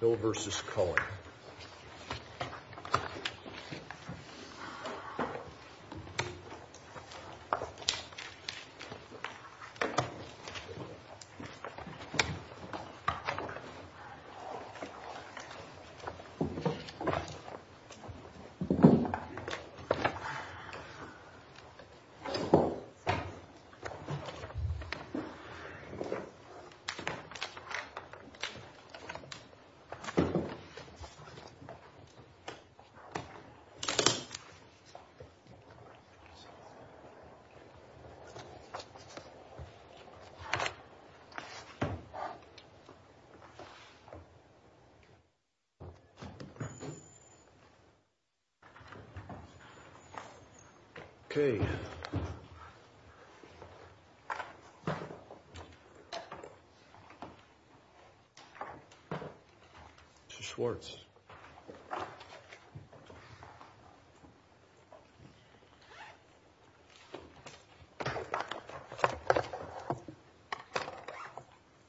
Bill vs. Cohen Ok!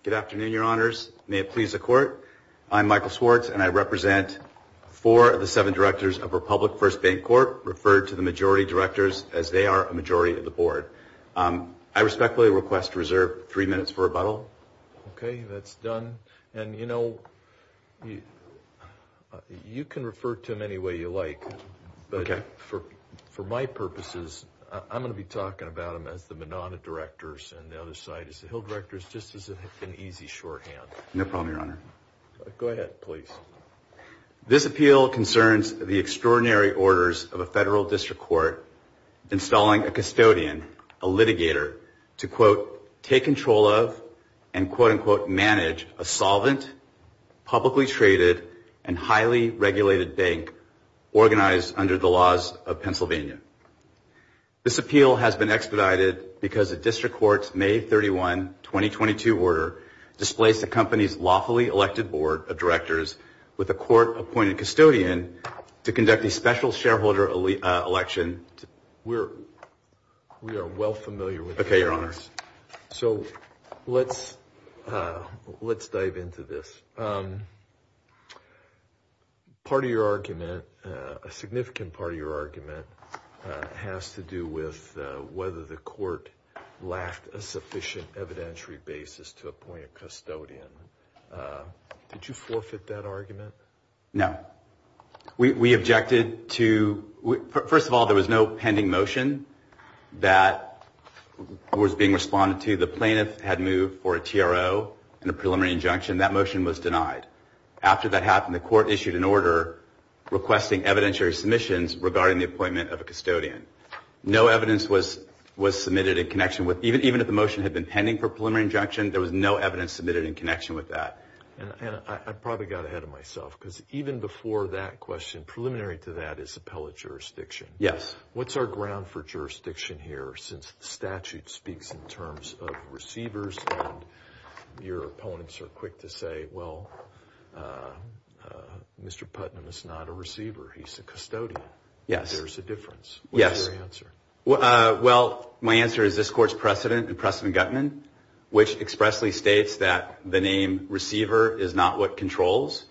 Good afternoon, your honors, may it please the court, I'm Michael Swartz and I represent four of the seven directors of Republic First Bank Corp., referred to the majority directors as they are a majority of the board. I respectfully request to reserve three minutes for rebuttal. Ok, that's done. And you know, you can refer to them any way you like, but for my purposes, I'm going to be talking about them as the Monada directors and the other side as the Hill directors, just as an easy shorthand. No problem, your honor. Go ahead, please. This appeal concerns the extraordinary orders of a federal district court, installing a custodian, a litigator, to quote, take control of and quote, unquote, manage a solvent, publicly traded and highly regulated bank organized under the laws of Pennsylvania. This appeal has been expedited because the district court's May 31, 2022 order displaced the company's elected board of directors with a court-appointed custodian to conduct a special shareholder election. We are well familiar with this. Ok, your honor. So, let's dive into this. Part of your argument, a significant part of your argument, has to do with whether the plaintiff had moved for a TRO and a preliminary injunction. Did you forfeit that argument? No. We objected to, first of all, there was no pending motion that was being responded to. The plaintiff had moved for a TRO and a preliminary injunction. That motion was denied. After that happened, the court issued an order requesting evidentiary submissions regarding the appointment of a custodian. No evidence was submitted in connection with, even if the motion had been pending for a preliminary injunction, there was no evidence submitted in connection with that. I probably got ahead of myself because even before that question, preliminary to that is appellate jurisdiction. Yes. What's our ground for jurisdiction here since the statute speaks in terms of receivers and your opponents are quick to say, well, Mr. Putnam is not a receiver, he's a custodian. Yes. There's a difference. Yes. What's your answer? Well, my answer is this court's precedent in Preston Gutman, which expressly states that the name receiver is not what controls.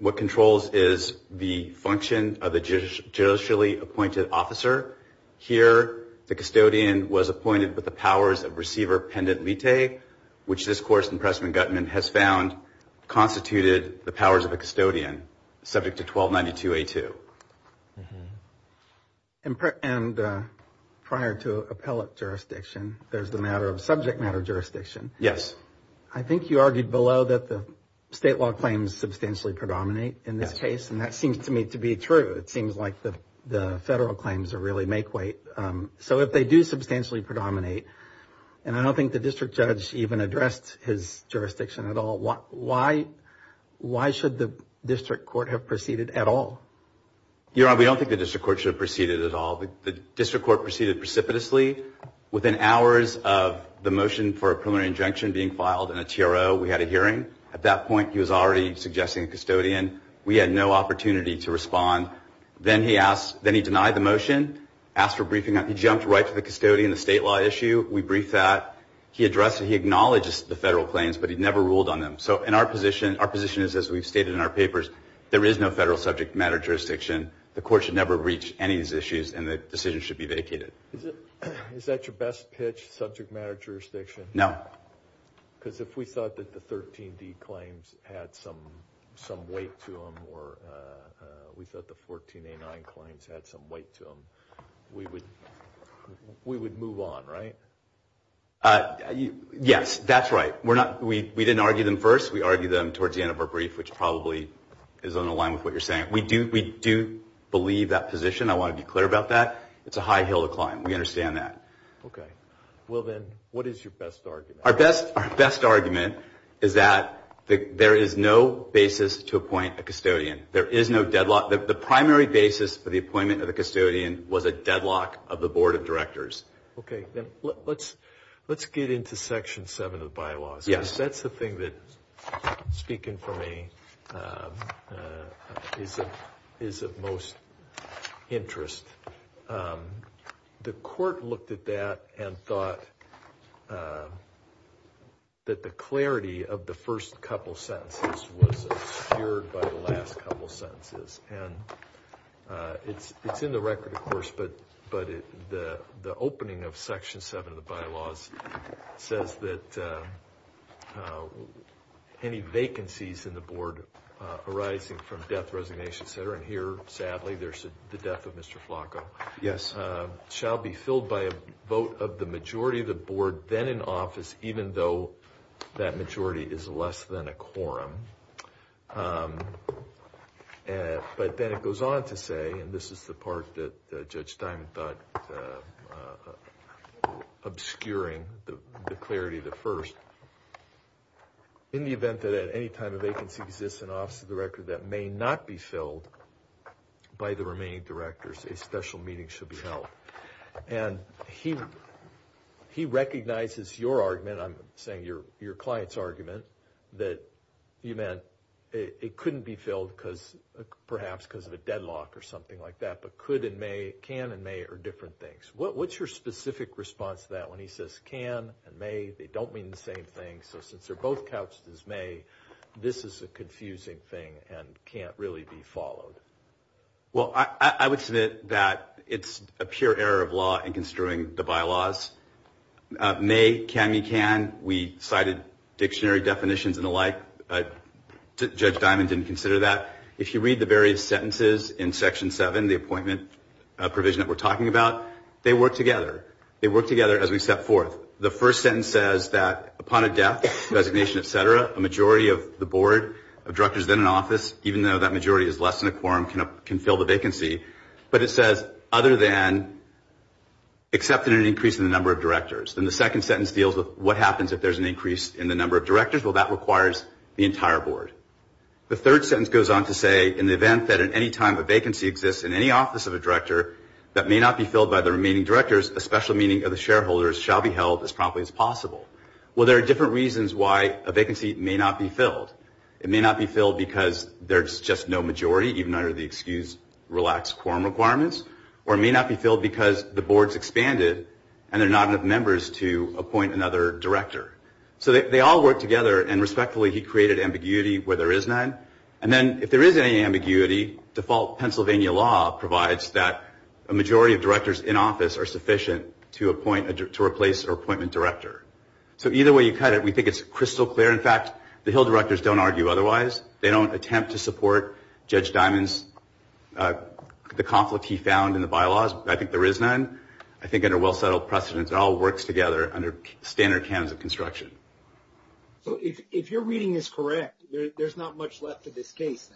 What controls is the function of the judicially appointed officer. Here, the custodian was appointed with the powers of receiver pendent lite, which this court in Preston Gutman has found constituted the powers of a custodian subject to 1292A2. And prior to appellate jurisdiction, there's a matter of subject matter jurisdiction. Yes. I think you argued below that the state law claims substantially predominate in this case, and that seems to me to be true. It seems like the federal claims really make weight. So if they do substantially predominate, and I don't think the district judge even addressed his jurisdiction at all, why should the district court have proceeded at all? Your Honor, we don't think the district court should have proceeded at all. The district court proceeded precipitously. Within hours of the motion for a preliminary injunction being filed in a TRO, we had a hearing. At that point, he was already suggesting a custodian. We had no opportunity to respond. Then he denied the motion, asked for briefing. He jumped right to the custodian, the state law issue. We briefed that. He addressed it. He acknowledged the federal claims, but he never ruled on them. So our position is, as we've stated in our papers, there is no federal subject matter jurisdiction. The court should never reach any of these issues, and the decision should be vacated. Is that your best pitch, subject matter jurisdiction? No. Because if we thought that the 13D claims had some weight to them, or we thought the 14A9 claims had some weight to them, we would move on, right? Yes. That's right. We didn't argue them first. We argued them towards the end of our brief, which probably is on the line with what you're saying. We do believe that position. I want to be clear about that. It's a high hill to climb. We understand that. Okay. Well, then, what is your best argument? Our best argument is that there is no basis to appoint a custodian. There is no deadlock. The primary basis for the appointment of the custodian was a deadlock of the board of directors. Let's get into Section 7 of the bylaws. That's the thing that, speaking for me, is of most interest. The court looked at that and thought that the clarity of the first couple sentences was obscured by the last couple sentences. It's in the record, of course, but the opening of Section 7 of the bylaws says that any vacancies in the board arising from death, resignation, et cetera, and here, sadly, there's the death of Mr. Flacco, shall be filled by a vote of the majority of the board, then in office, even though that majority is less than a quorum. But then it goes on to say, and this is the part that Judge Diamond thought was obscuring the clarity of the first, in the event that at any time a vacancy exists in office of the director that may not be filled by the remaining directors, a special meeting should be held. And he recognizes your argument, I'm saying your client's argument, that you meant it couldn't be filled because, perhaps because of a deadlock or something like that, but could and may, can and may are different things. What's your specific response to that when he says can and may, they don't mean the same thing, so since they're both couched as may, this is a confusing thing and can't really be followed? Well, I would submit that it's a pure error of law in construing the bylaws. May, can, me, can, we cited dictionary definitions and the like, but Judge Diamond didn't consider that. If you read the various sentences in Section 7, the appointment provision that we're talking about, they work together. They work together as we step forth. The first sentence says that upon a death, resignation, et cetera, a majority of the board of directors, then an office, even though that majority is less than a quorum, can fill the vacancy. But it says, other than, except in an increase in the number of directors. Then the second sentence deals with what happens if there's an increase in the number of directors. Well, that requires the entire board. The third sentence goes on to say, in the event that at any time a vacancy exists in any office of a director that may not be filled by the remaining directors, a special meeting of the shareholders shall be held as promptly as possible. Well, there are different reasons why a vacancy may not be filled. It may not be filled because there's just no majority, even under the excused relaxed quorum requirements, or it may not be filled because the board's expanded and there are not enough members to appoint another director. So they all work together, and respectfully, he created ambiguity where there is none. And then, if there is any ambiguity, default Pennsylvania law provides that a majority of directors in office are sufficient to appoint, to replace an appointment director. So either way you cut it, we think it's crystal clear. In fact, the Hill directors don't argue otherwise. They don't attempt to support Judge Diamond's, the conflict he found in the bylaws. I think there is none. I think under well-settled precedents, it all works together under standard cans of construction. So if your reading is correct, there's not much left to this case?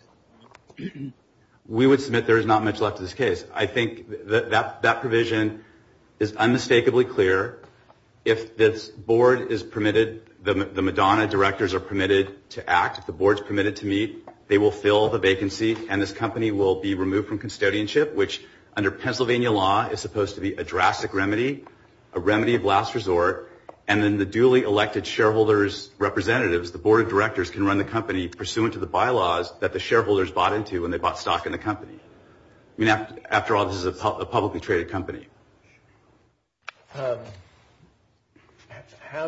We would submit there is not much left to this case. I think that that provision is unmistakably clear. If this board is permitted, the Madonna directors are permitted to ask if the board is permitted to meet, they will fill the vacancy and this company will be removed from custodianship, which under Pennsylvania law is supposed to be a drastic remedy, a remedy of last resort, and then the duly elected shareholders' representatives, the board of directors, can run the company pursuant to the bylaws that the shareholders bought into when they bought stock in the company. I mean, after all, this is a publicly traded company. How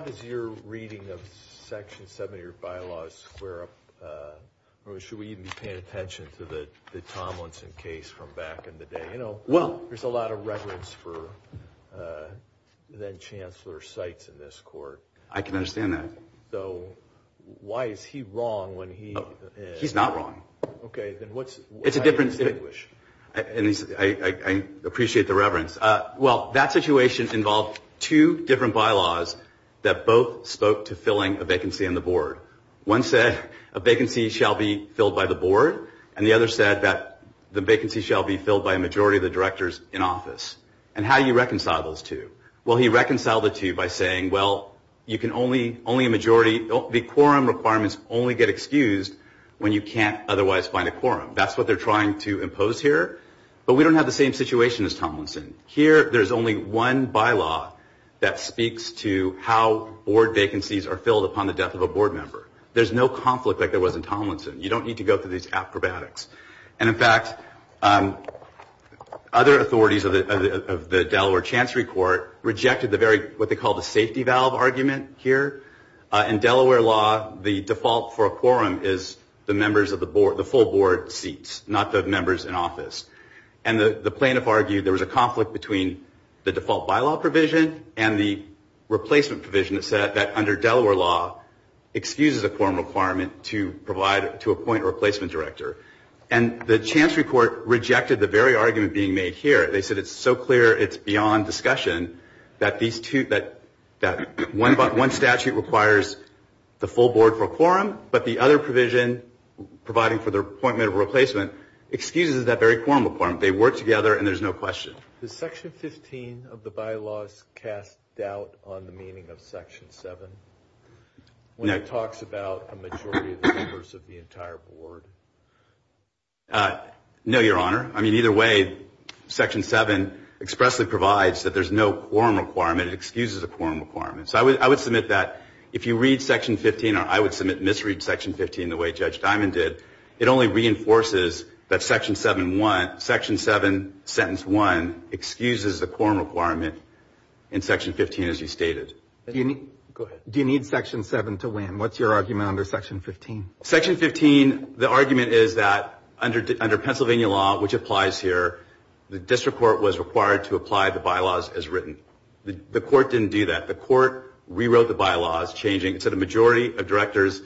does your reading of Section 70 of your bylaws square up, or should we even be paying attention to the Tomlinson case from back in the day? You know, there's a lot of reverence for then-Chancellor Seitz in this court. I can understand that. So why is he wrong when he... He's not wrong. It's a different... I appreciate the reverence. Well, that situation involved two different bylaws that both spoke to filling a vacancy on the board. One said a vacancy shall be filled by the board, and the other said that the vacancy shall be filled by a majority of the directors in office. And how do you reconcile those two? Well, he reconciled the two by saying, well, you can only, only get excused when you can't otherwise find a quorum. That's what they're trying to impose here. But we don't have the same situation as Tomlinson. Here, there's only one bylaw that speaks to how board vacancies are filled upon the death of a board member. There's no conflict like there was in Tomlinson. You don't need to go through these acrobatics. And in fact, other authorities of the Delaware Chancery Court rejected the very, what they call the safety valve argument here. In Delaware law, the default for a quorum is the members of the board, the full board seats, not the members in office. And the plaintiff argued there was a conflict between the default bylaw provision and the replacement provision that said that under Delaware law excuses a quorum requirement to provide, to appoint a replacement director. And the Chancery Court rejected the very argument being made here. They said it's so clear it's beyond discussion that these two, that one statute requires a full board for a quorum, but the other provision providing for the appointment of a replacement excuses that very quorum requirement. They work together, and there's no question. No, Your Honor. I mean, either way, Section 7 expressly provides that there's no quorum requirement. It only reinforces that Section 7, sentence 1, excuses the quorum requirement in Section 15 as you stated. Do you need Section 7 to win? What's your argument under Section 15? Section 15, the argument is that under Pennsylvania law, which applies here, the district court was required to apply the bylaws as written. The court didn't do that. The court rewrote the bylaws, changing. So the majority of directors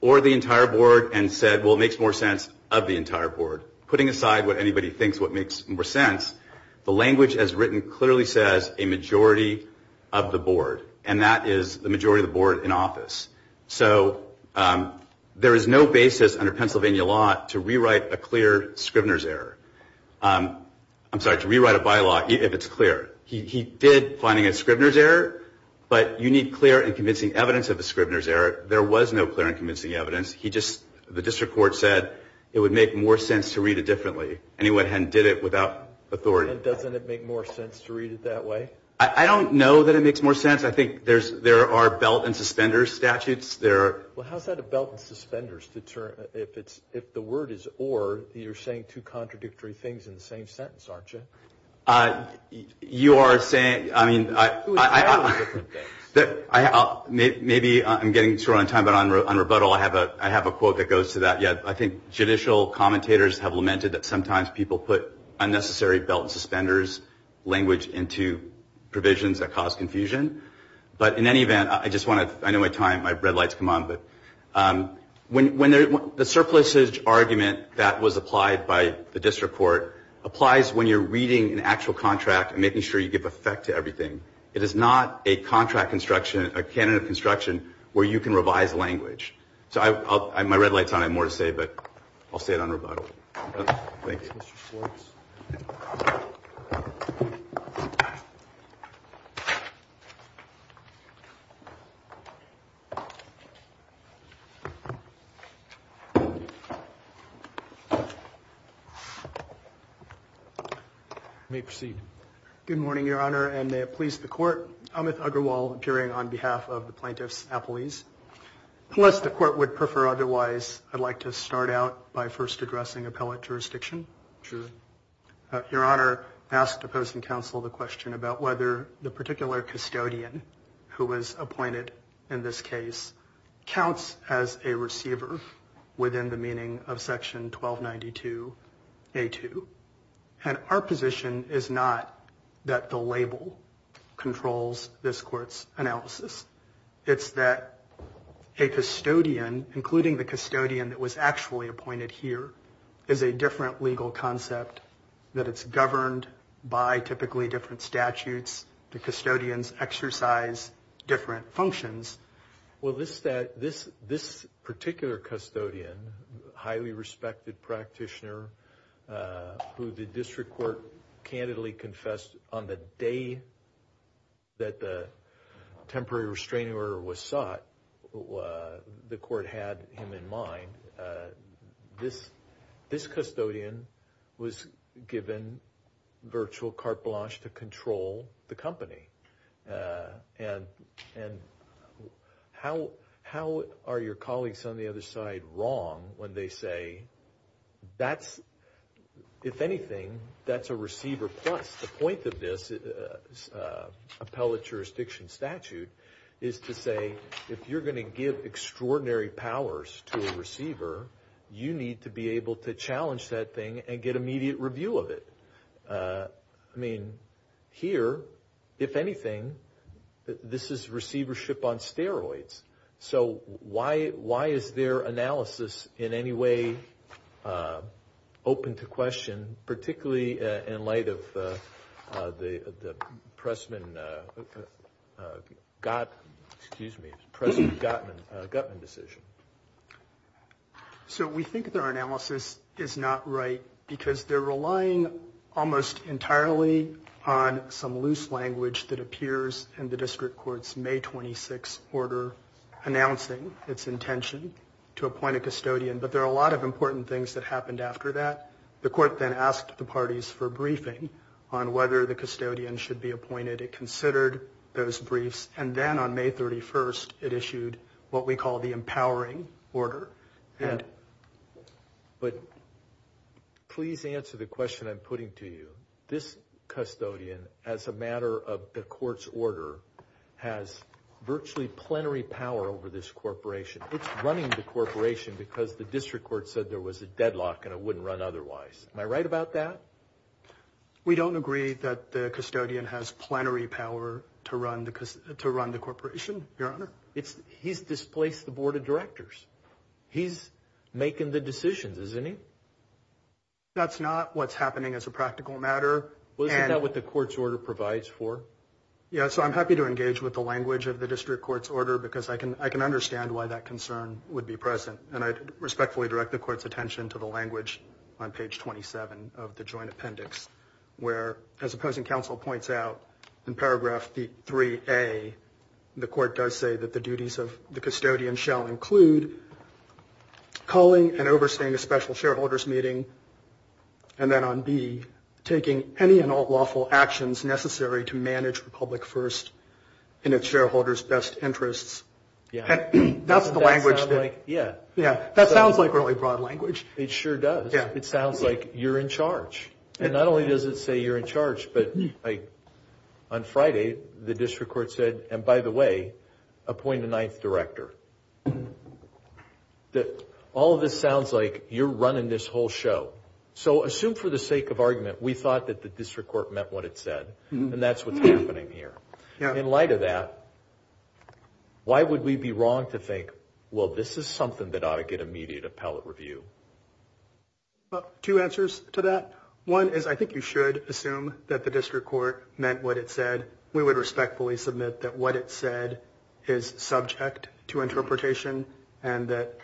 or the entire board and said, well, it makes more sense of the entire board. Putting aside what anybody thinks what makes more sense, the language as written clearly says a majority of the board, and that is the majority of the board in office. So there is no basis under Pennsylvania law to rewrite a clear Scrivener's error. I'm sorry, to rewrite a bylaw if it's clear. He did finding a Scrivener's error, but you need clear and convincing evidence of the Scrivener's error. There was no clear and convincing evidence. The district court said it would make more sense to read it differently, and he went ahead and did it without authority. And doesn't it make more sense to read it that way? I don't know that it makes more sense. I think there are belt and suspenders statutes. Well, how's that a belt and suspenders? If the word is or, you're saying two contradictory things in the same sentence, aren't you? Maybe I'm getting sort of on time, but on rebuttal, I have a quote that goes to that. I think judicial commentators have lamented that sometimes people put unnecessary belt and suspenders language into provisions that cause confusion. But in any event, I just want to, I know my time, my red lights come on, but when the surpluses argument that was applied by the district court applies when you're reading an actual contract and making sure you give effect to everything, it is not a contract construction, a canon of construction where you can revise language. So my red light's on. I have more to say, but I'll say it on rebuttal. Thank you. Thank you. May proceed. Good morning, Your Honor, and the police, the court, Amit Agrawal appearing on behalf of the plaintiffs. Please. Unless the court would prefer. Otherwise, I'd like to start out by first addressing appellate jurisdiction. Your Honor asked opposing counsel the question about whether the particular custodian who was appointed in this case counts as a receiver within the meaning of section 1292 a two. And our position is not that the label controls this court's analysis. It's that a custodian, including the custodian that was actually appointed here, is a different legal concept that it's governed by typically different statutes. The custodians exercise different functions. Well, this that this this particular custodian, highly respected practitioner, who the district court candidly confessed on the day that the temporary restraining order was sought, the court had him in mind. This this custodian was given virtual carte blanche to control the company. And and how how are your colleagues on the other side wrong when they say that's if anything, that's a receiver. Plus, the point of this appellate jurisdiction statute is to say, if you're going to give extraordinary powers to a receiver, you need to be able to challenge that thing and get immediate review of it. I mean, here, if anything, this is receivership on steroids. So why? Why is their analysis in any way open to question, particularly in light of, you know, with the Pressman got excuse me, President Gottman government decision? So we think that our analysis is not right because they're relying almost entirely on some loose language that appears in the district court's May 26 order announcing its intention to appoint a custodian. But there are a lot of important things that happened after that. The court then asked the parties for briefing on whether the custodian should be appointed. It considered those briefs. And then on May 31st, it issued what we call the empowering order. But please answer the question I'm putting to you. This custodian, as a matter of the court's order, has virtually plenary power over this corporation. It's running the corporation because the district court said there was a deadlock and it wouldn't run otherwise. Am I right about that? We don't agree that the custodian has plenary power to run because to run the corporation. Your Honor, it's he's displaced the board of directors. He's making the decisions, isn't he? That's not what's happening as a practical matter. Well, isn't that what the court's order provides for? Yeah. So I'm happy to engage with the language of the district court's order because I can I can understand why that concern would be present. And I respectfully direct the court's attention to the language on page 27 of the joint appendix, where as opposing counsel points out in paragraph three a the court does say that the duties of the custodian shall include calling and overstaying a special shareholders meeting and then on B, taking any and all lawful actions necessary to manage Republic first in its shareholders best interests. Yeah. That's the language. Yeah. That sounds like really broad language. It sure does. It sounds like you're in charge. And not only does it say you're in charge, but on Friday, the district court said, well, all of this sounds like you're running this whole show. So assume for the sake of argument, we thought that the district court meant what it said. And that's what's happening here. In light of that, why would we be wrong to think, well, this is something that ought to get immediate appellate review? Two answers to that. One is I think you should assume that the district court meant what it said. We would respectfully submit that what it said is subject to interpretation and that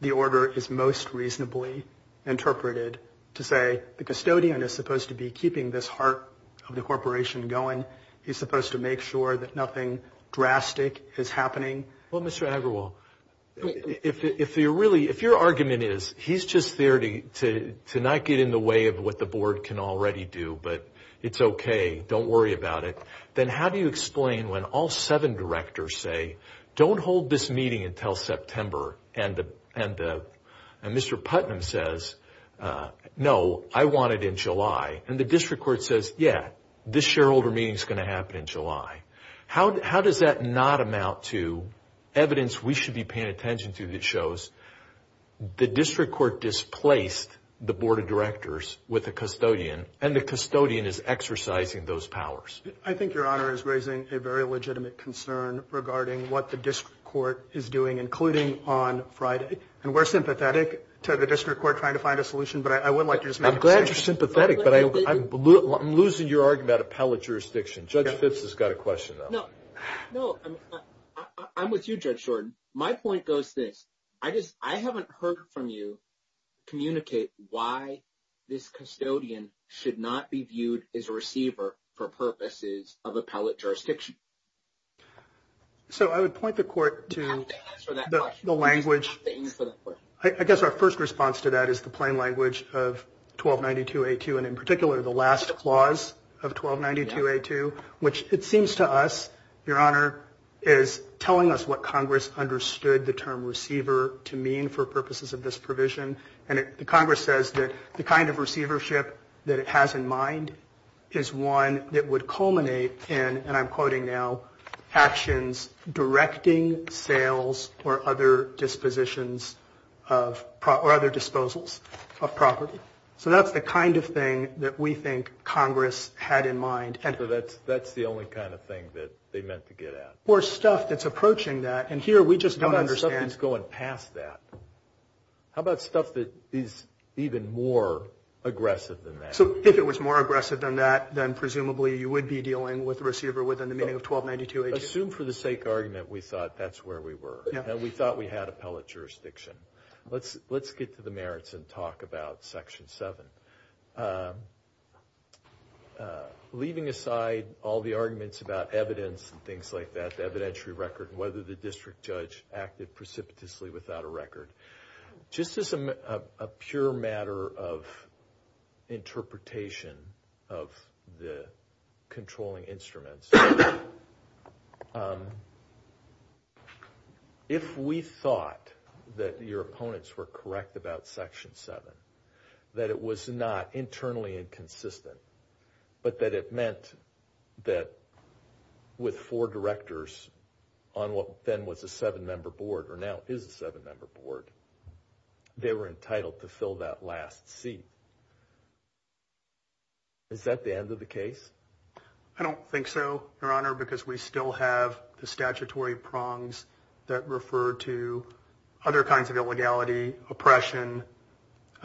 the order is most reasonably interpreted to say the custodian is supposed to be keeping this heart of the corporation going. He's supposed to make sure that nothing drastic is happening. Well, Mr. Agrawal, if you're really if your argument is he's just there to to not get in the way of what the board can already do. But it's OK. Don't worry about it. Then how do you explain when all seven directors say, don't hold this meeting until September and Mr. Putnam says, no, I want it in July. And the district court says, yeah, this shareholder meeting is going to happen in July. How does that not amount to evidence we should be paying attention to that shows the district court displaced the board of directors with a custodian and the custodian is exercising those powers? I think your honor is raising a very legitimate concern regarding what the district court is doing, including on Friday. And we're sympathetic to the district court trying to find a solution. But I would like to just I'm glad you're sympathetic, but I'm losing your argument. Appellate jurisdiction. Judge Fitz has got a question, though. No, I'm with you, Judge Jordan. My point goes this. I just I haven't heard from you. Communicate why this custodian should not be viewed as a receiver for purposes of appellate jurisdiction. So I would point the court to the language for the court. I guess our first response to that is the plain language of twelve ninety two eight two. And in particular, the last clause of twelve ninety two eight two, which it seems to us, your honor, is telling us what Congress understood the term receiver to mean for purposes of this provision. And the Congress says that the kind of receivership that it has in mind is one that would culminate in. And I'm quoting now actions directing sales or other dispositions of or other disposals of property. So that's the kind of thing that we think Congress had in mind. So that's that's the only kind of thing that they meant to get at or stuff that's approaching that. And here we just don't understand it's going past that. How about stuff that is even more aggressive than that? So if it was more aggressive than that, then presumably you would be dealing with receiver within the meaning of twelve ninety two. Assume for the sake argument we thought that's where we were and we thought we had appellate jurisdiction. Let's let's get to the merits and talk about Section seven leaving aside all the arguments about evidence and things like that. The evidentiary record, whether the district judge acted precipitously without a record. Just as a pure matter of interpretation of the controlling instruments. If we thought that your opponents were correct about Section seven, that it was not internally inconsistent, but that it meant that with four directors on what then was a seven member board or now is a seven member board, they were entitled to fill that last seat. Is that the end of the case? I don't think so, Your Honor, because we still have the statutory prongs that refer to other kinds of illegality, oppression.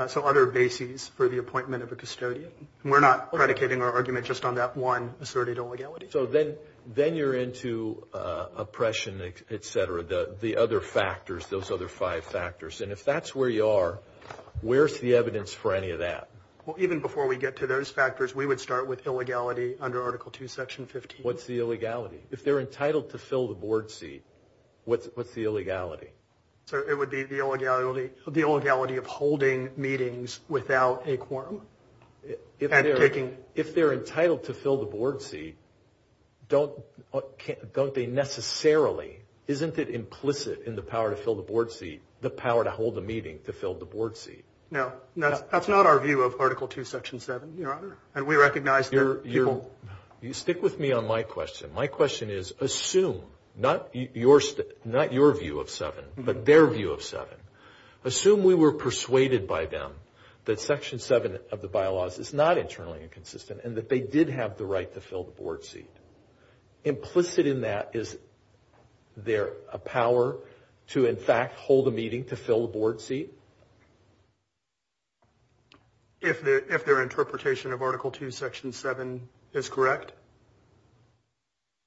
So other bases for the appointment of a custodian. We're not predicating our argument just on that one asserted illegality. So then then you're into oppression, etc. The other factors, those other five factors. And if that's where you are, where's the evidence for any of that? Well, even before we get to those factors, we would start with illegality under Article two, Section 15. What's the illegality if they're entitled to fill the board seat? What's the illegality? So it would be the illegality of holding meetings without a quorum. If they're entitled to fill the board seat, don't they necessarily, isn't it implicit in the power to fill the board seat, the power to hold a meeting to fill the board seat? No, that's not our view of Article two, Section seven, Your Honor. You stick with me on my question. My question is assume not your view of seven, but their view of seven. Assume we were persuaded by them that Section seven of the bylaws is not internally inconsistent and that they did have the right to fill the board seat. Implicit in that is there a power to, in fact, hold a meeting to fill the board seat? If their interpretation of Article two, Section seven is correct.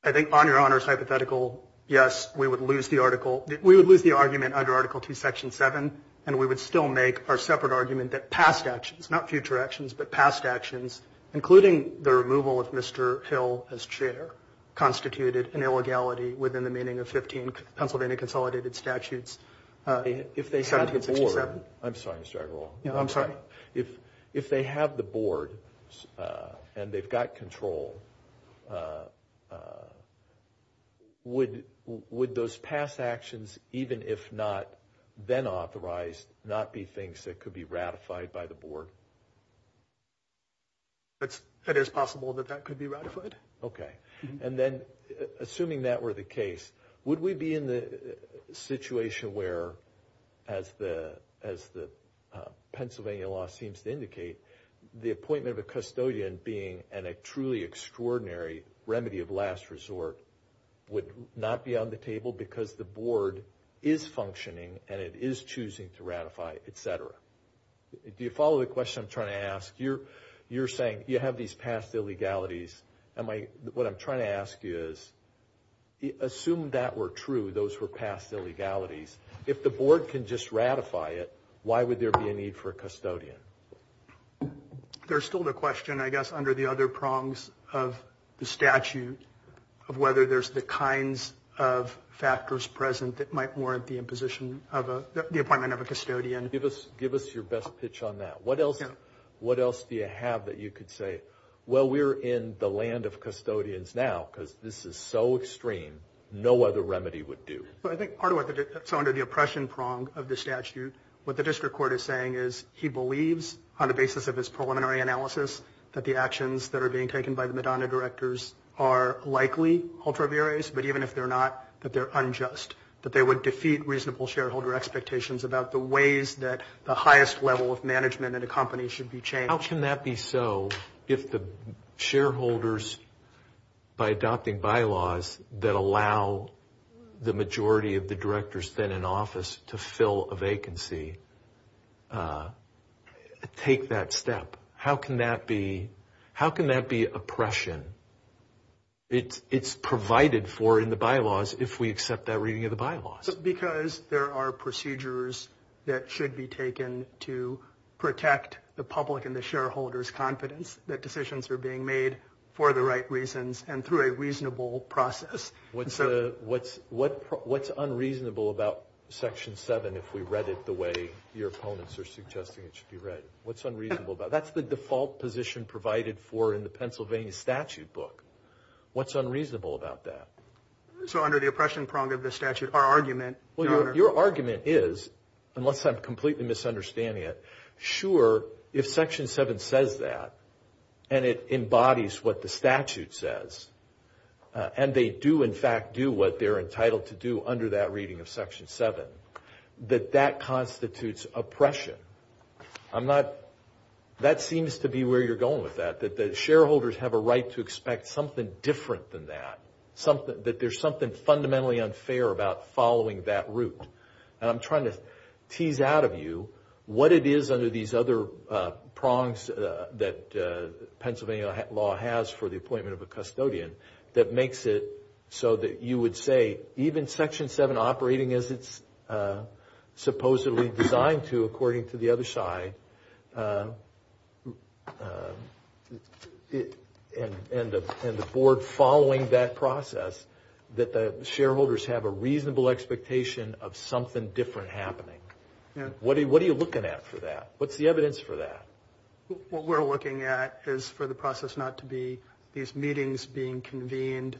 I think on Your Honor's hypothetical, yes, we would lose the article. We would lose the argument under Article two, Section seven, and we would still make our separate argument that past actions, not future actions, but past actions, including the removal of Mr. Hill as chair, constituted an illegality within the meaning of 15 Pennsylvania consolidated statutes. If they had the board. I'm sorry, Mr. Agarwal. If they have the board and they've got control, would those past actions, even if not then authorized, not be things that could be ratified by the board? It is possible that that could be ratified. Okay. And then, assuming that were the case, would we be in the situation where, as the Pennsylvania law seems to indicate, the appointment of a custodian being a truly extraordinary remedy of last resort would not be on the table because the board is functioning and it is choosing to ratify, etc.? Do you follow the question I'm trying to ask? You're saying you have these past illegalities. What I'm trying to ask you is, assume that were true, those were past illegalities. If the board can just ratify it, why would there be a need for a custodian? There's still the question, I guess, under the other prongs of the statute, of whether there's the kinds of factors present that might warrant the appointment of a custodian. Give us your best pitch on that. What else do you have that you could say, well, we're in the land of custodians now because this is so extreme, no other remedy would do. I think part of what's under the oppression prong of the statute, what the district court is saying is he believes, on the basis of his preliminary analysis, that the actions that are being taken by the Madonna directors are likely ultraviarious, but even if they're not, that they're unjust, that they would defeat reasonable shareholder expectations about the ways that the highest level of management in a company should be changed. How can that be so if the shareholders, by adopting bylaws that allow the majority of the directors then in office to fill a vacancy, take that step? How can that be oppression? It's provided for in the bylaws if we accept that reading of the bylaws. Because there are procedures that should be taken to protect the public and the shareholders' confidence that decisions are being made for the right reasons and through a reasonable process. What's unreasonable about Section 7 if we read it the way your opponents are suggesting it should be read? That's the default position provided for in the Pennsylvania statute book. What's unreasonable about that? Your argument is, unless I'm completely misunderstanding it, sure, if Section 7 says that and it embodies what the statute says, and they do in fact do what they're entitled to do under that reading of Section 7, that that constitutes oppression. That seems to be where you're going with that, that the shareholders have a right to expect something different than that, that there's something fundamentally unfair about following that route. And I'm trying to tease out of you what it is under these other prongs that Pennsylvania law has for the appointment of a custodian that makes it so that you would say, even Section 7 operating as it's supposedly designed to, according to the other side, and the board following that process, that the shareholders have a reasonable expectation of something different happening. What are you looking at for that? What's the evidence for that? What we're looking at is for the process not to be these meetings being convened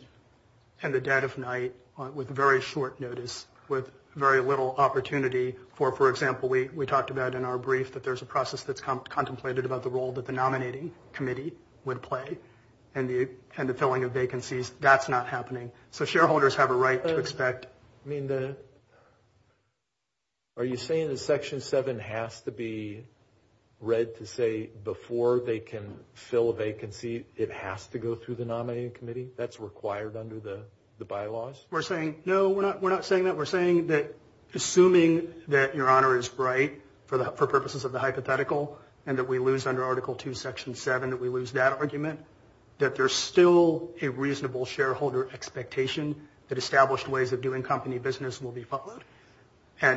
in the dead of night with very short notice, with very little opportunity. For example, we talked about in our brief that there's a process that's contemplated about the role that the nominating committee would play and the filling of vacancies. That's not happening. So shareholders have a right to expect... Are you saying that Section 7 has to be read to say before they can fill a vacancy, it has to go through the nominating committee? That's required under the bylaws? We're saying, no, we're not saying that. We're saying that assuming that Your Honor is right for purposes of the hypothetical and that we lose under Article 2, Section 7, that we lose that argument, that there's still a reasonable shareholder expectation that established ways of doing company business will be followed,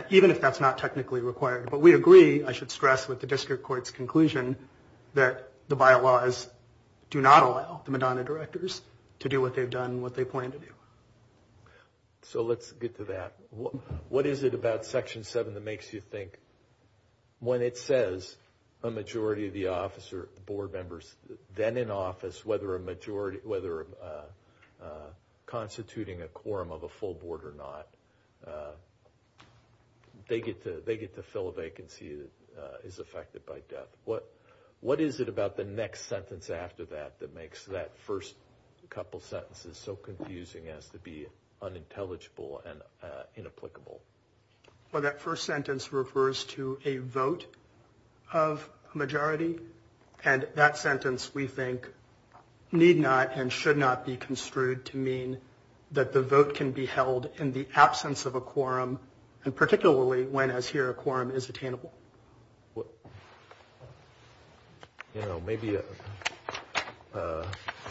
even if that's not technically required. But we agree, I should stress with the district court's conclusion, that the bylaws do not allow the Medina directors to do what they've done and what they plan to do. So let's get to that. What is it about Section 7 that makes you think, when it says a majority of the board members then in office, whether constituting a quorum of a full board or not, they get to fill a vacancy that is affected by death? What is it about the next sentence after that that makes that first couple sentences so confusing as to be unintelligible and inapplicable? Well, that first sentence refers to a vote of majority. And that sentence, we think, need not and should not be construed to mean that the vote can be held in the absence of a quorum, and particularly when, as here, a quorum is attainable. You know, maybe I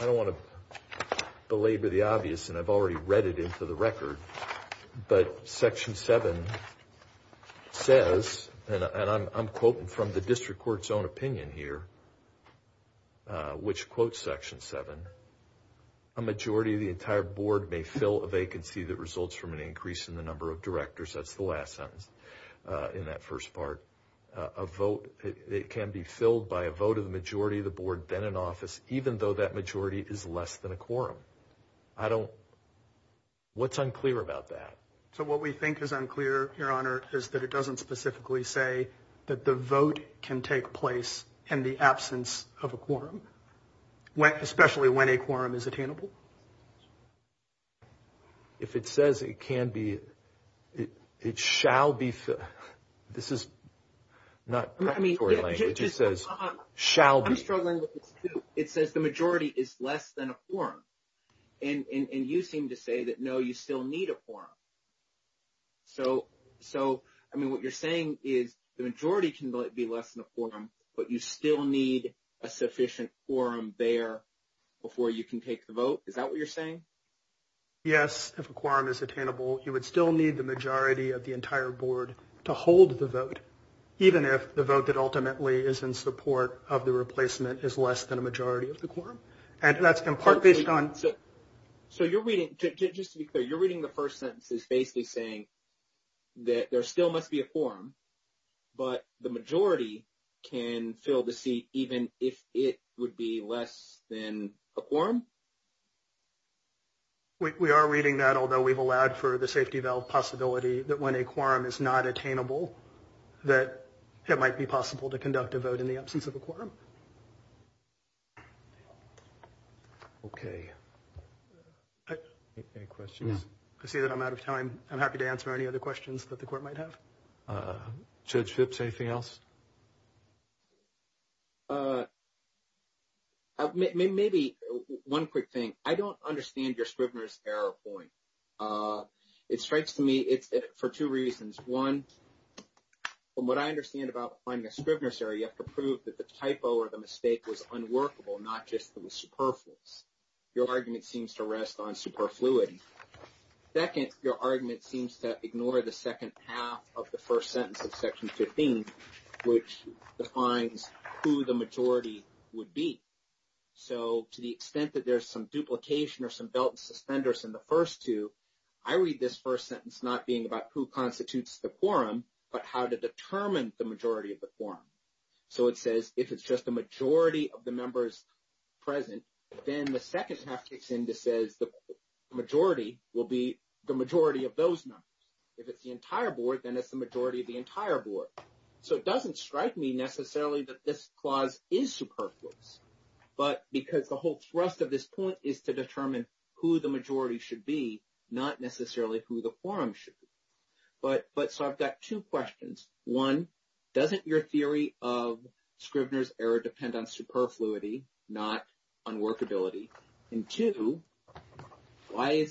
don't want to belabor the obvious, and I've already read it into the record, but Section 7 says, and I'm quoting from the district court's own opinion here, which quotes Section 7, a majority of the entire board may fill a vacancy that results from an increase in the number of directors. That's the last sentence in that first part. It can be filled by a vote of the majority of the board then in office, even though that majority is less than a quorum. What's unclear about that? So what we think is unclear, Your Honor, is that it doesn't specifically say that the vote can take place in the absence of a quorum, especially when a quorum is attainable. If it says it can be, it shall be filled. This is not preparatory language. It says the majority is less than a quorum. And you seem to say that, no, you still need a quorum. So, I mean, what you're saying is the majority can be less than a quorum, but you still need a sufficient quorum there before you can take the vote. Is that what you're saying? Yes. If a quorum is attainable, you would still need the majority of the entire board to hold the vote, even if the vote that ultimately is in support of the replacement is less than a majority of the quorum. So you're reading, just to be clear, you're reading the first sentence as basically saying that there still must be a quorum, but the majority can fill the seat even if it would be less than a quorum? We are reading that, although we've allowed for the safety valve possibility that when a quorum is not attainable, that it might be possible to conduct a vote in the absence of a quorum. Okay. Any questions? I see that I'm out of time. I'm happy to answer any other questions that the court might have. Judge Phipps, anything else? Maybe one quick thing. I don't understand your Scrivener's error point. It strikes me for two reasons. One, from what I understand about finding a Scrivener's error, you have to prove that the typo or the mistake was unworkable, not just that it was superfluous. Your argument seems to rest on superfluity. Second, your argument seems to ignore the second half of the first sentence of Section 15, which defines who the majority would be. So to the extent that there's some duplication or some belt and suspenders in the first two, I read this first sentence not being about who constitutes the quorum, but how to determine the majority of the quorum. So it says if it's just a majority of the members present, then the second half kicks in to says the majority will be the majority of those numbers. If it's the entire board, then it's the majority of the entire board. So it doesn't strike me necessarily that this clause is superfluous. But because the whole thrust of this point is to determine who the majority should be, not necessarily who the quorum should be. But so I've got two questions. One, doesn't your theory of Scrivener's error depend on superfluity, not on workability? And two, why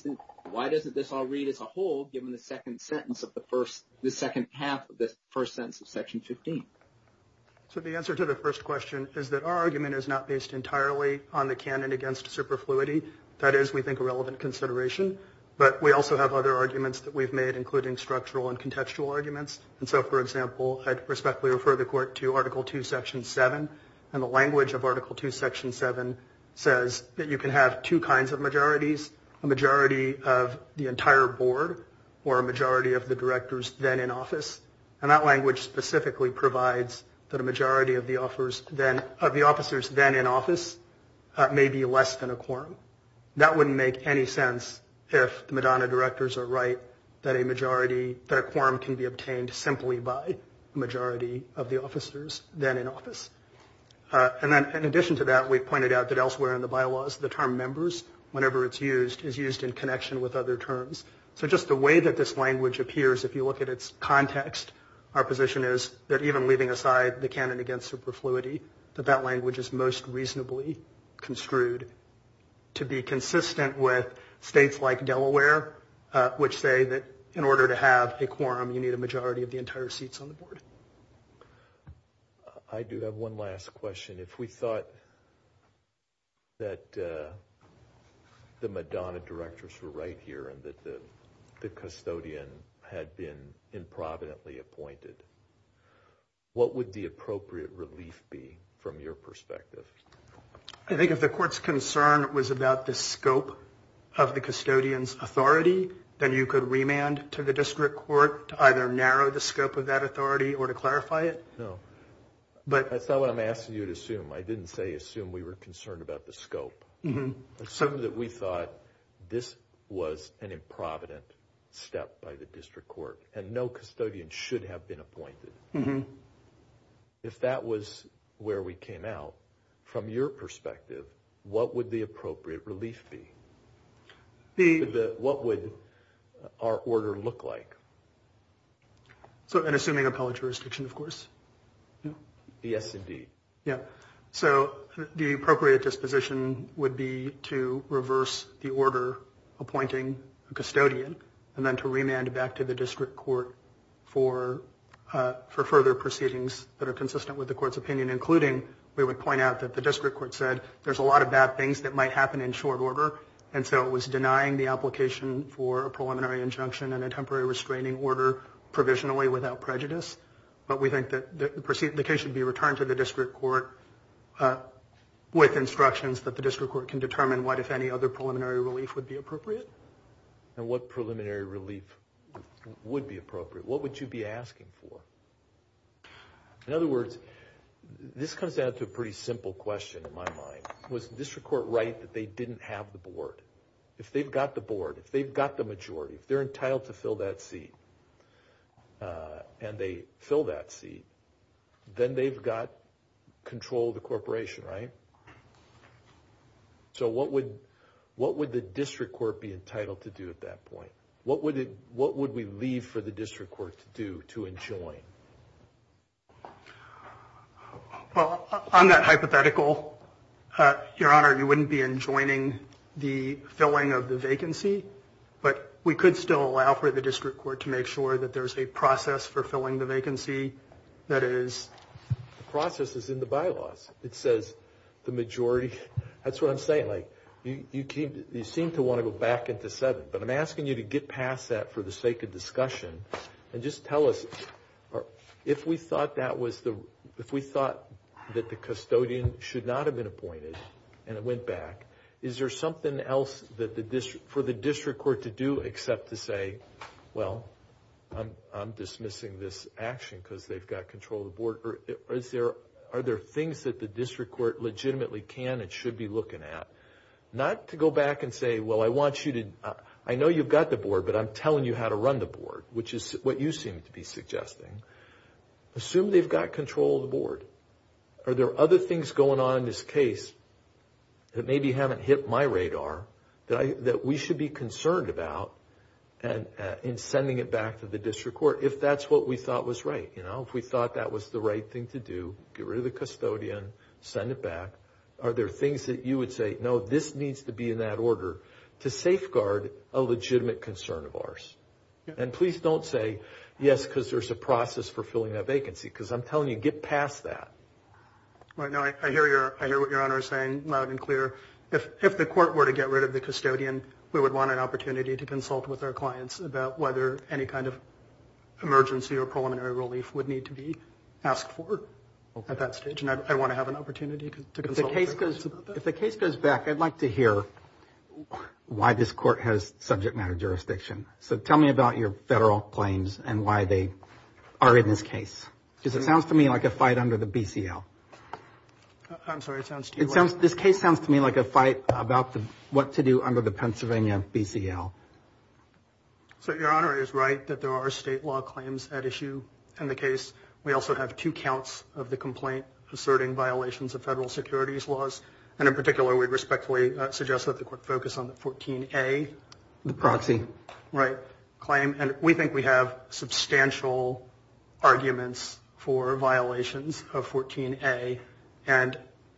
doesn't this all read as a whole given the second sentence of the first – the second half of the first sentence of Section 15? So the answer to the first question is that our argument is not based entirely on the canon against superfluity. That is, we think, a relevant consideration. But we also have other arguments that we've made, including structural and contextual arguments. And so, for example, I'd respectfully refer the court to Article 2, Section 7. And the language of Article 2, Section 7 says that you can have two kinds of majorities, a majority of the entire board or a majority of the directors then in office. And that language specifically provides that a majority of the officers then in office may be less than a quorum. That wouldn't make any sense if the Madonna directors are right that a majority – that a quorum can be obtained simply by a majority of the officers then in office. And then in addition to that, we've pointed out that elsewhere in the bylaws, the term members, whenever it's used, is used in connection with other terms. So just the way that this language appears, if you look at its context, our position is that even leaving aside the canon against superfluity, that that language is most reasonably construed to be consistent with states like Delaware, which say that in order to have a quorum, you need a majority of the entire seats on the board. I do have one last question. If we thought that the Madonna directors were right here and that the custodian had been improvidently appointed, what would the appropriate relief be from your perspective? I think if the court's concern was about the scope of the custodian's authority, then you could remand to the district court to either narrow the scope of that authority or to clarify it. No, that's not what I'm asking you to assume. I didn't say assume we were concerned about the scope. Assume that we thought this was an improvident step by the district court and no custodian should have been appointed. If that was where we came out, from your perspective, what would the appropriate relief be? What would our order look like? Assuming appellate jurisdiction, of course. Yes, indeed. The appropriate disposition would be to reverse the order appointing a custodian and then to remand back to the district court for further proceedings that are consistent with the court's opinion, including we would point out that the district court said there's a lot of bad things that might happen in short order, and so it was denying the application for a preliminary injunction and a temporary restraining order provisionally without prejudice. But we think that the case should be returned to the district court with instructions that the district court can determine what, if any, other preliminary relief would be appropriate. And what preliminary relief would be appropriate? What would you be asking for? In other words, this comes down to a pretty simple question in my mind. Was the district court right that they didn't have the board? If they've got the board, if they've got the majority, if they're entitled to fill that seat, and they fill that seat, then they've got control of the corporation, right? So what would the district court be entitled to do at that point? What would we leave for the district court to do to enjoin? Well, on that hypothetical, Your Honor, you wouldn't be enjoining the filling of the vacancy, but we could still allow for the district court to make sure that there's a process for filling the vacancy. That is, the process is in the bylaws. It says the majority. That's what I'm saying. Like, you seem to want to go back into seven, but I'm asking you to get past that for the sake of discussion and just tell us if we thought that the custodian should not have been appointed and it went back, is there something else for the district court to do except to say, well, I'm dismissing this action because they've got control of the board? Are there things that the district court legitimately can and should be looking at? Not to go back and say, well, I know you've got the board, but I'm telling you how to run the board, which is what you seem to be suggesting. Assume they've got control of the board. Are there other things going on in this case that maybe haven't hit my radar that we should be concerned about in sending it back to the district court if that's what we thought was right? You know, if we thought that was the right thing to do, get rid of the custodian, send it back. Are there things that you would say, no, this needs to be in that order to safeguard a legitimate concern of ours? And please don't say, yes, because there's a process for filling that vacancy, because I'm telling you, get past that. I hear what your Honor is saying loud and clear. If the court were to get rid of the custodian, we would want an opportunity to consult with our clients about whether any kind of emergency or preliminary relief would need to be asked for at that stage, and I want to have an opportunity to consult with our clients about that. If the case goes back, I'd like to hear why this court has subject matter jurisdiction. So tell me about your federal claims and why they are in this case, because it sounds to me like a fight under the BCL. I'm sorry, it sounds to you what? This case sounds to me like a fight about what to do under the Pennsylvania BCL. So, Your Honor is right that there are state law claims at issue in the case. We also have two counts of the complaint asserting violations of federal securities laws, and in particular we respectfully suggest that the court focus on the 14A. The proxy. Right, claim, and we think we have substantial arguments for violations of 14A and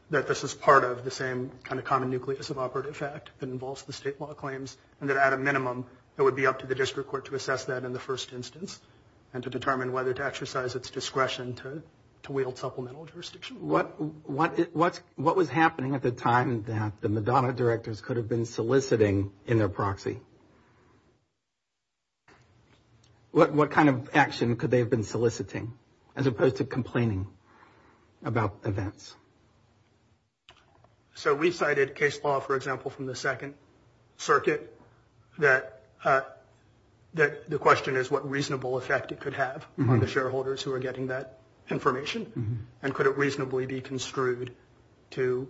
that this is part of the same kind of common nucleus of operative fact that involves the state law claims, and that at a minimum it would be up to the district court to assess that in the first instance and to determine whether to exercise its discretion to wield supplemental jurisdiction. What was happening at the time that the Madonna directors could have been soliciting in their proxy? What kind of action could they have been soliciting as opposed to complaining about events? So, we cited case law, for example, from the Second Circuit that the question is what reasonable effect it could have on the shareholders who are getting that information, and could it reasonably be construed to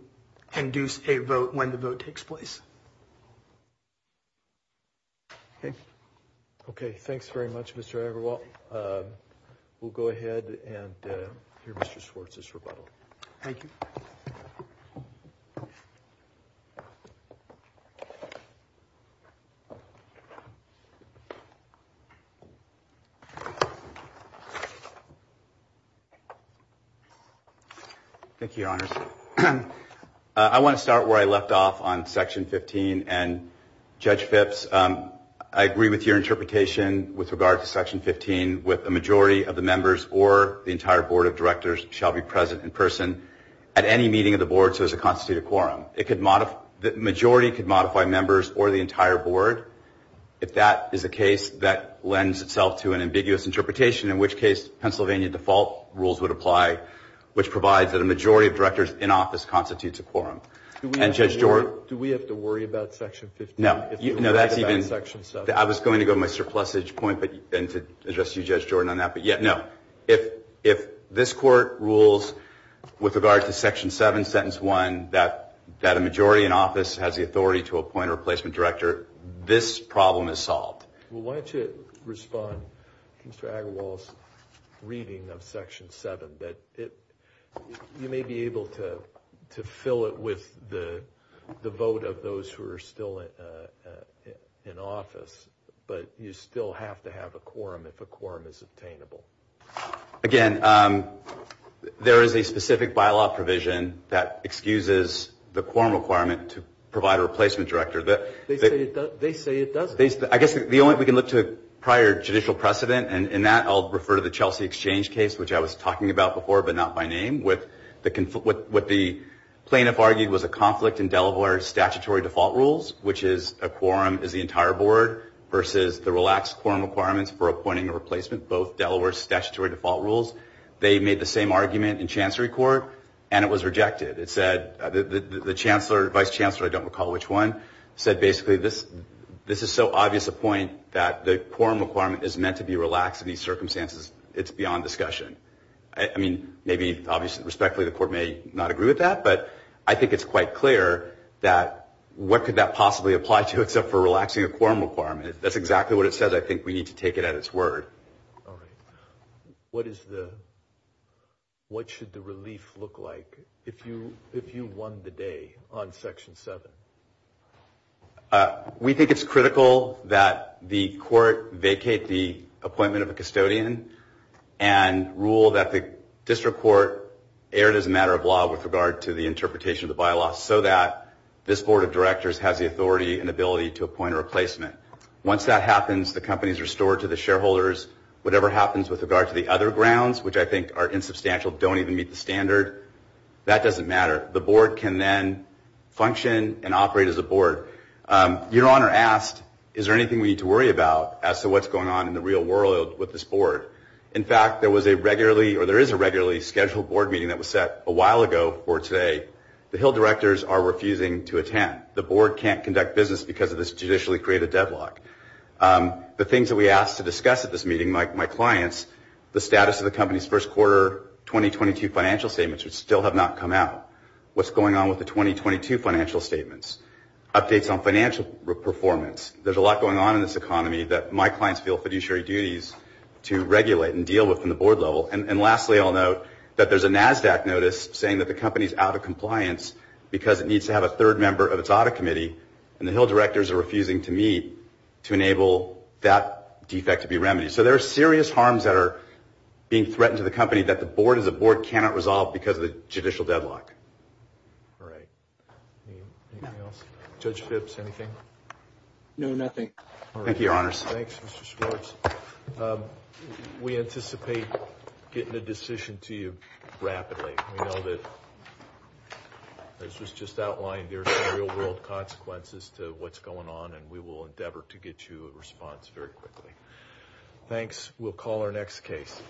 induce a vote when the vote takes place? Okay. Okay, thanks very much, Mr. Everwell. We'll go ahead and hear Mr. Swartz's rebuttal. Thank you. Thank you, Your Honors. I want to start where I left off on Section 15, and Judge Phipps, I agree with your interpretation with regard to Section 15, with a majority of the members or the entire board of directors shall be present in person at any meeting of the board so as to constitute a quorum. The majority could modify members or the entire board. If that is the case, that lends itself to an ambiguous interpretation, in which case Pennsylvania default rules would apply, which provides that a majority of directors in office constitutes a quorum. Do we have to worry about Section 15? No. I was going to go to my surplusage point and to address you, Judge Jordan, on that. But, yeah, no. If this Court rules with regard to Section 7, Sentence 1, that a majority in office has the authority to appoint a replacement director, this problem is solved. Why don't you respond to Mr. Agarwal's reading of Section 7, but you may be able to fill it with the vote of those who are still in office, but you still have to have a quorum if a quorum is obtainable. Again, there is a specific bylaw provision that excuses the quorum requirement to provide a replacement director. They say it doesn't. I guess the only way we can look to a prior judicial precedent, and in that I'll refer to the Chelsea Exchange case, which I was talking about before but not by name, with what the plaintiff argued was a conflict in Delaware's statutory default rules, which is a quorum is the entire board, versus the relaxed quorum requirements for appointing a replacement, both Delaware's statutory default rules. They made the same argument in Chancery Court, and it was rejected. It said the chancellor, vice chancellor, I don't recall which one, said basically this is so obvious a point that the quorum requirement is meant to be relaxed in these circumstances. It's beyond discussion. I mean, maybe obviously respectfully the court may not agree with that, but I think it's quite clear that what could that possibly apply to except for relaxing a quorum requirement. That's exactly what it says. I think we need to take it at its word. All right. What should the relief look like if you won the day on Section 7? We think it's critical that the court vacate the appointment of a custodian and rule that the district court erred as a matter of law with regard to the interpretation of the bylaw so that this board of directors has the authority and ability to appoint a replacement. Once that happens, the company is restored to the shareholders. Whatever happens with regard to the other grounds, which I think are insubstantial, don't even meet the standard, that doesn't matter. The board can then function and operate as a board. Your Honor asked, is there anything we need to worry about as to what's going on in the real world with this board? In fact, there was a regularly or there is a regularly scheduled board meeting that was set a while ago for today. The Hill directors are refusing to attend. The board can't conduct business because of this judicially created deadlock. The things that we asked to discuss at this meeting, my clients, the status of the company's first quarter 2022 financial statements still have not come out. What's going on with the 2022 financial statements? Updates on financial performance. There's a lot going on in this economy that my clients feel fiduciary duties to regulate and deal with from the board level. And lastly, I'll note that there's a NASDAQ notice saying that the company is out of compliance because it needs to have a third member of its audit committee, and the Hill directors are refusing to meet to enable that defect to be remedied. So there are serious harms that are being threatened to the company that the board as a board cannot resolve because of the judicial deadlock. All right. Anything else? Judge Phipps, anything? No, nothing. Thank you, Your Honors. Thanks, Mr. Schwartz. We anticipate getting a decision to you rapidly. We know that, as was just outlined, there are some real-world consequences to what's going on, and we will endeavor to get you a response very quickly. Thanks. We'll call our next case.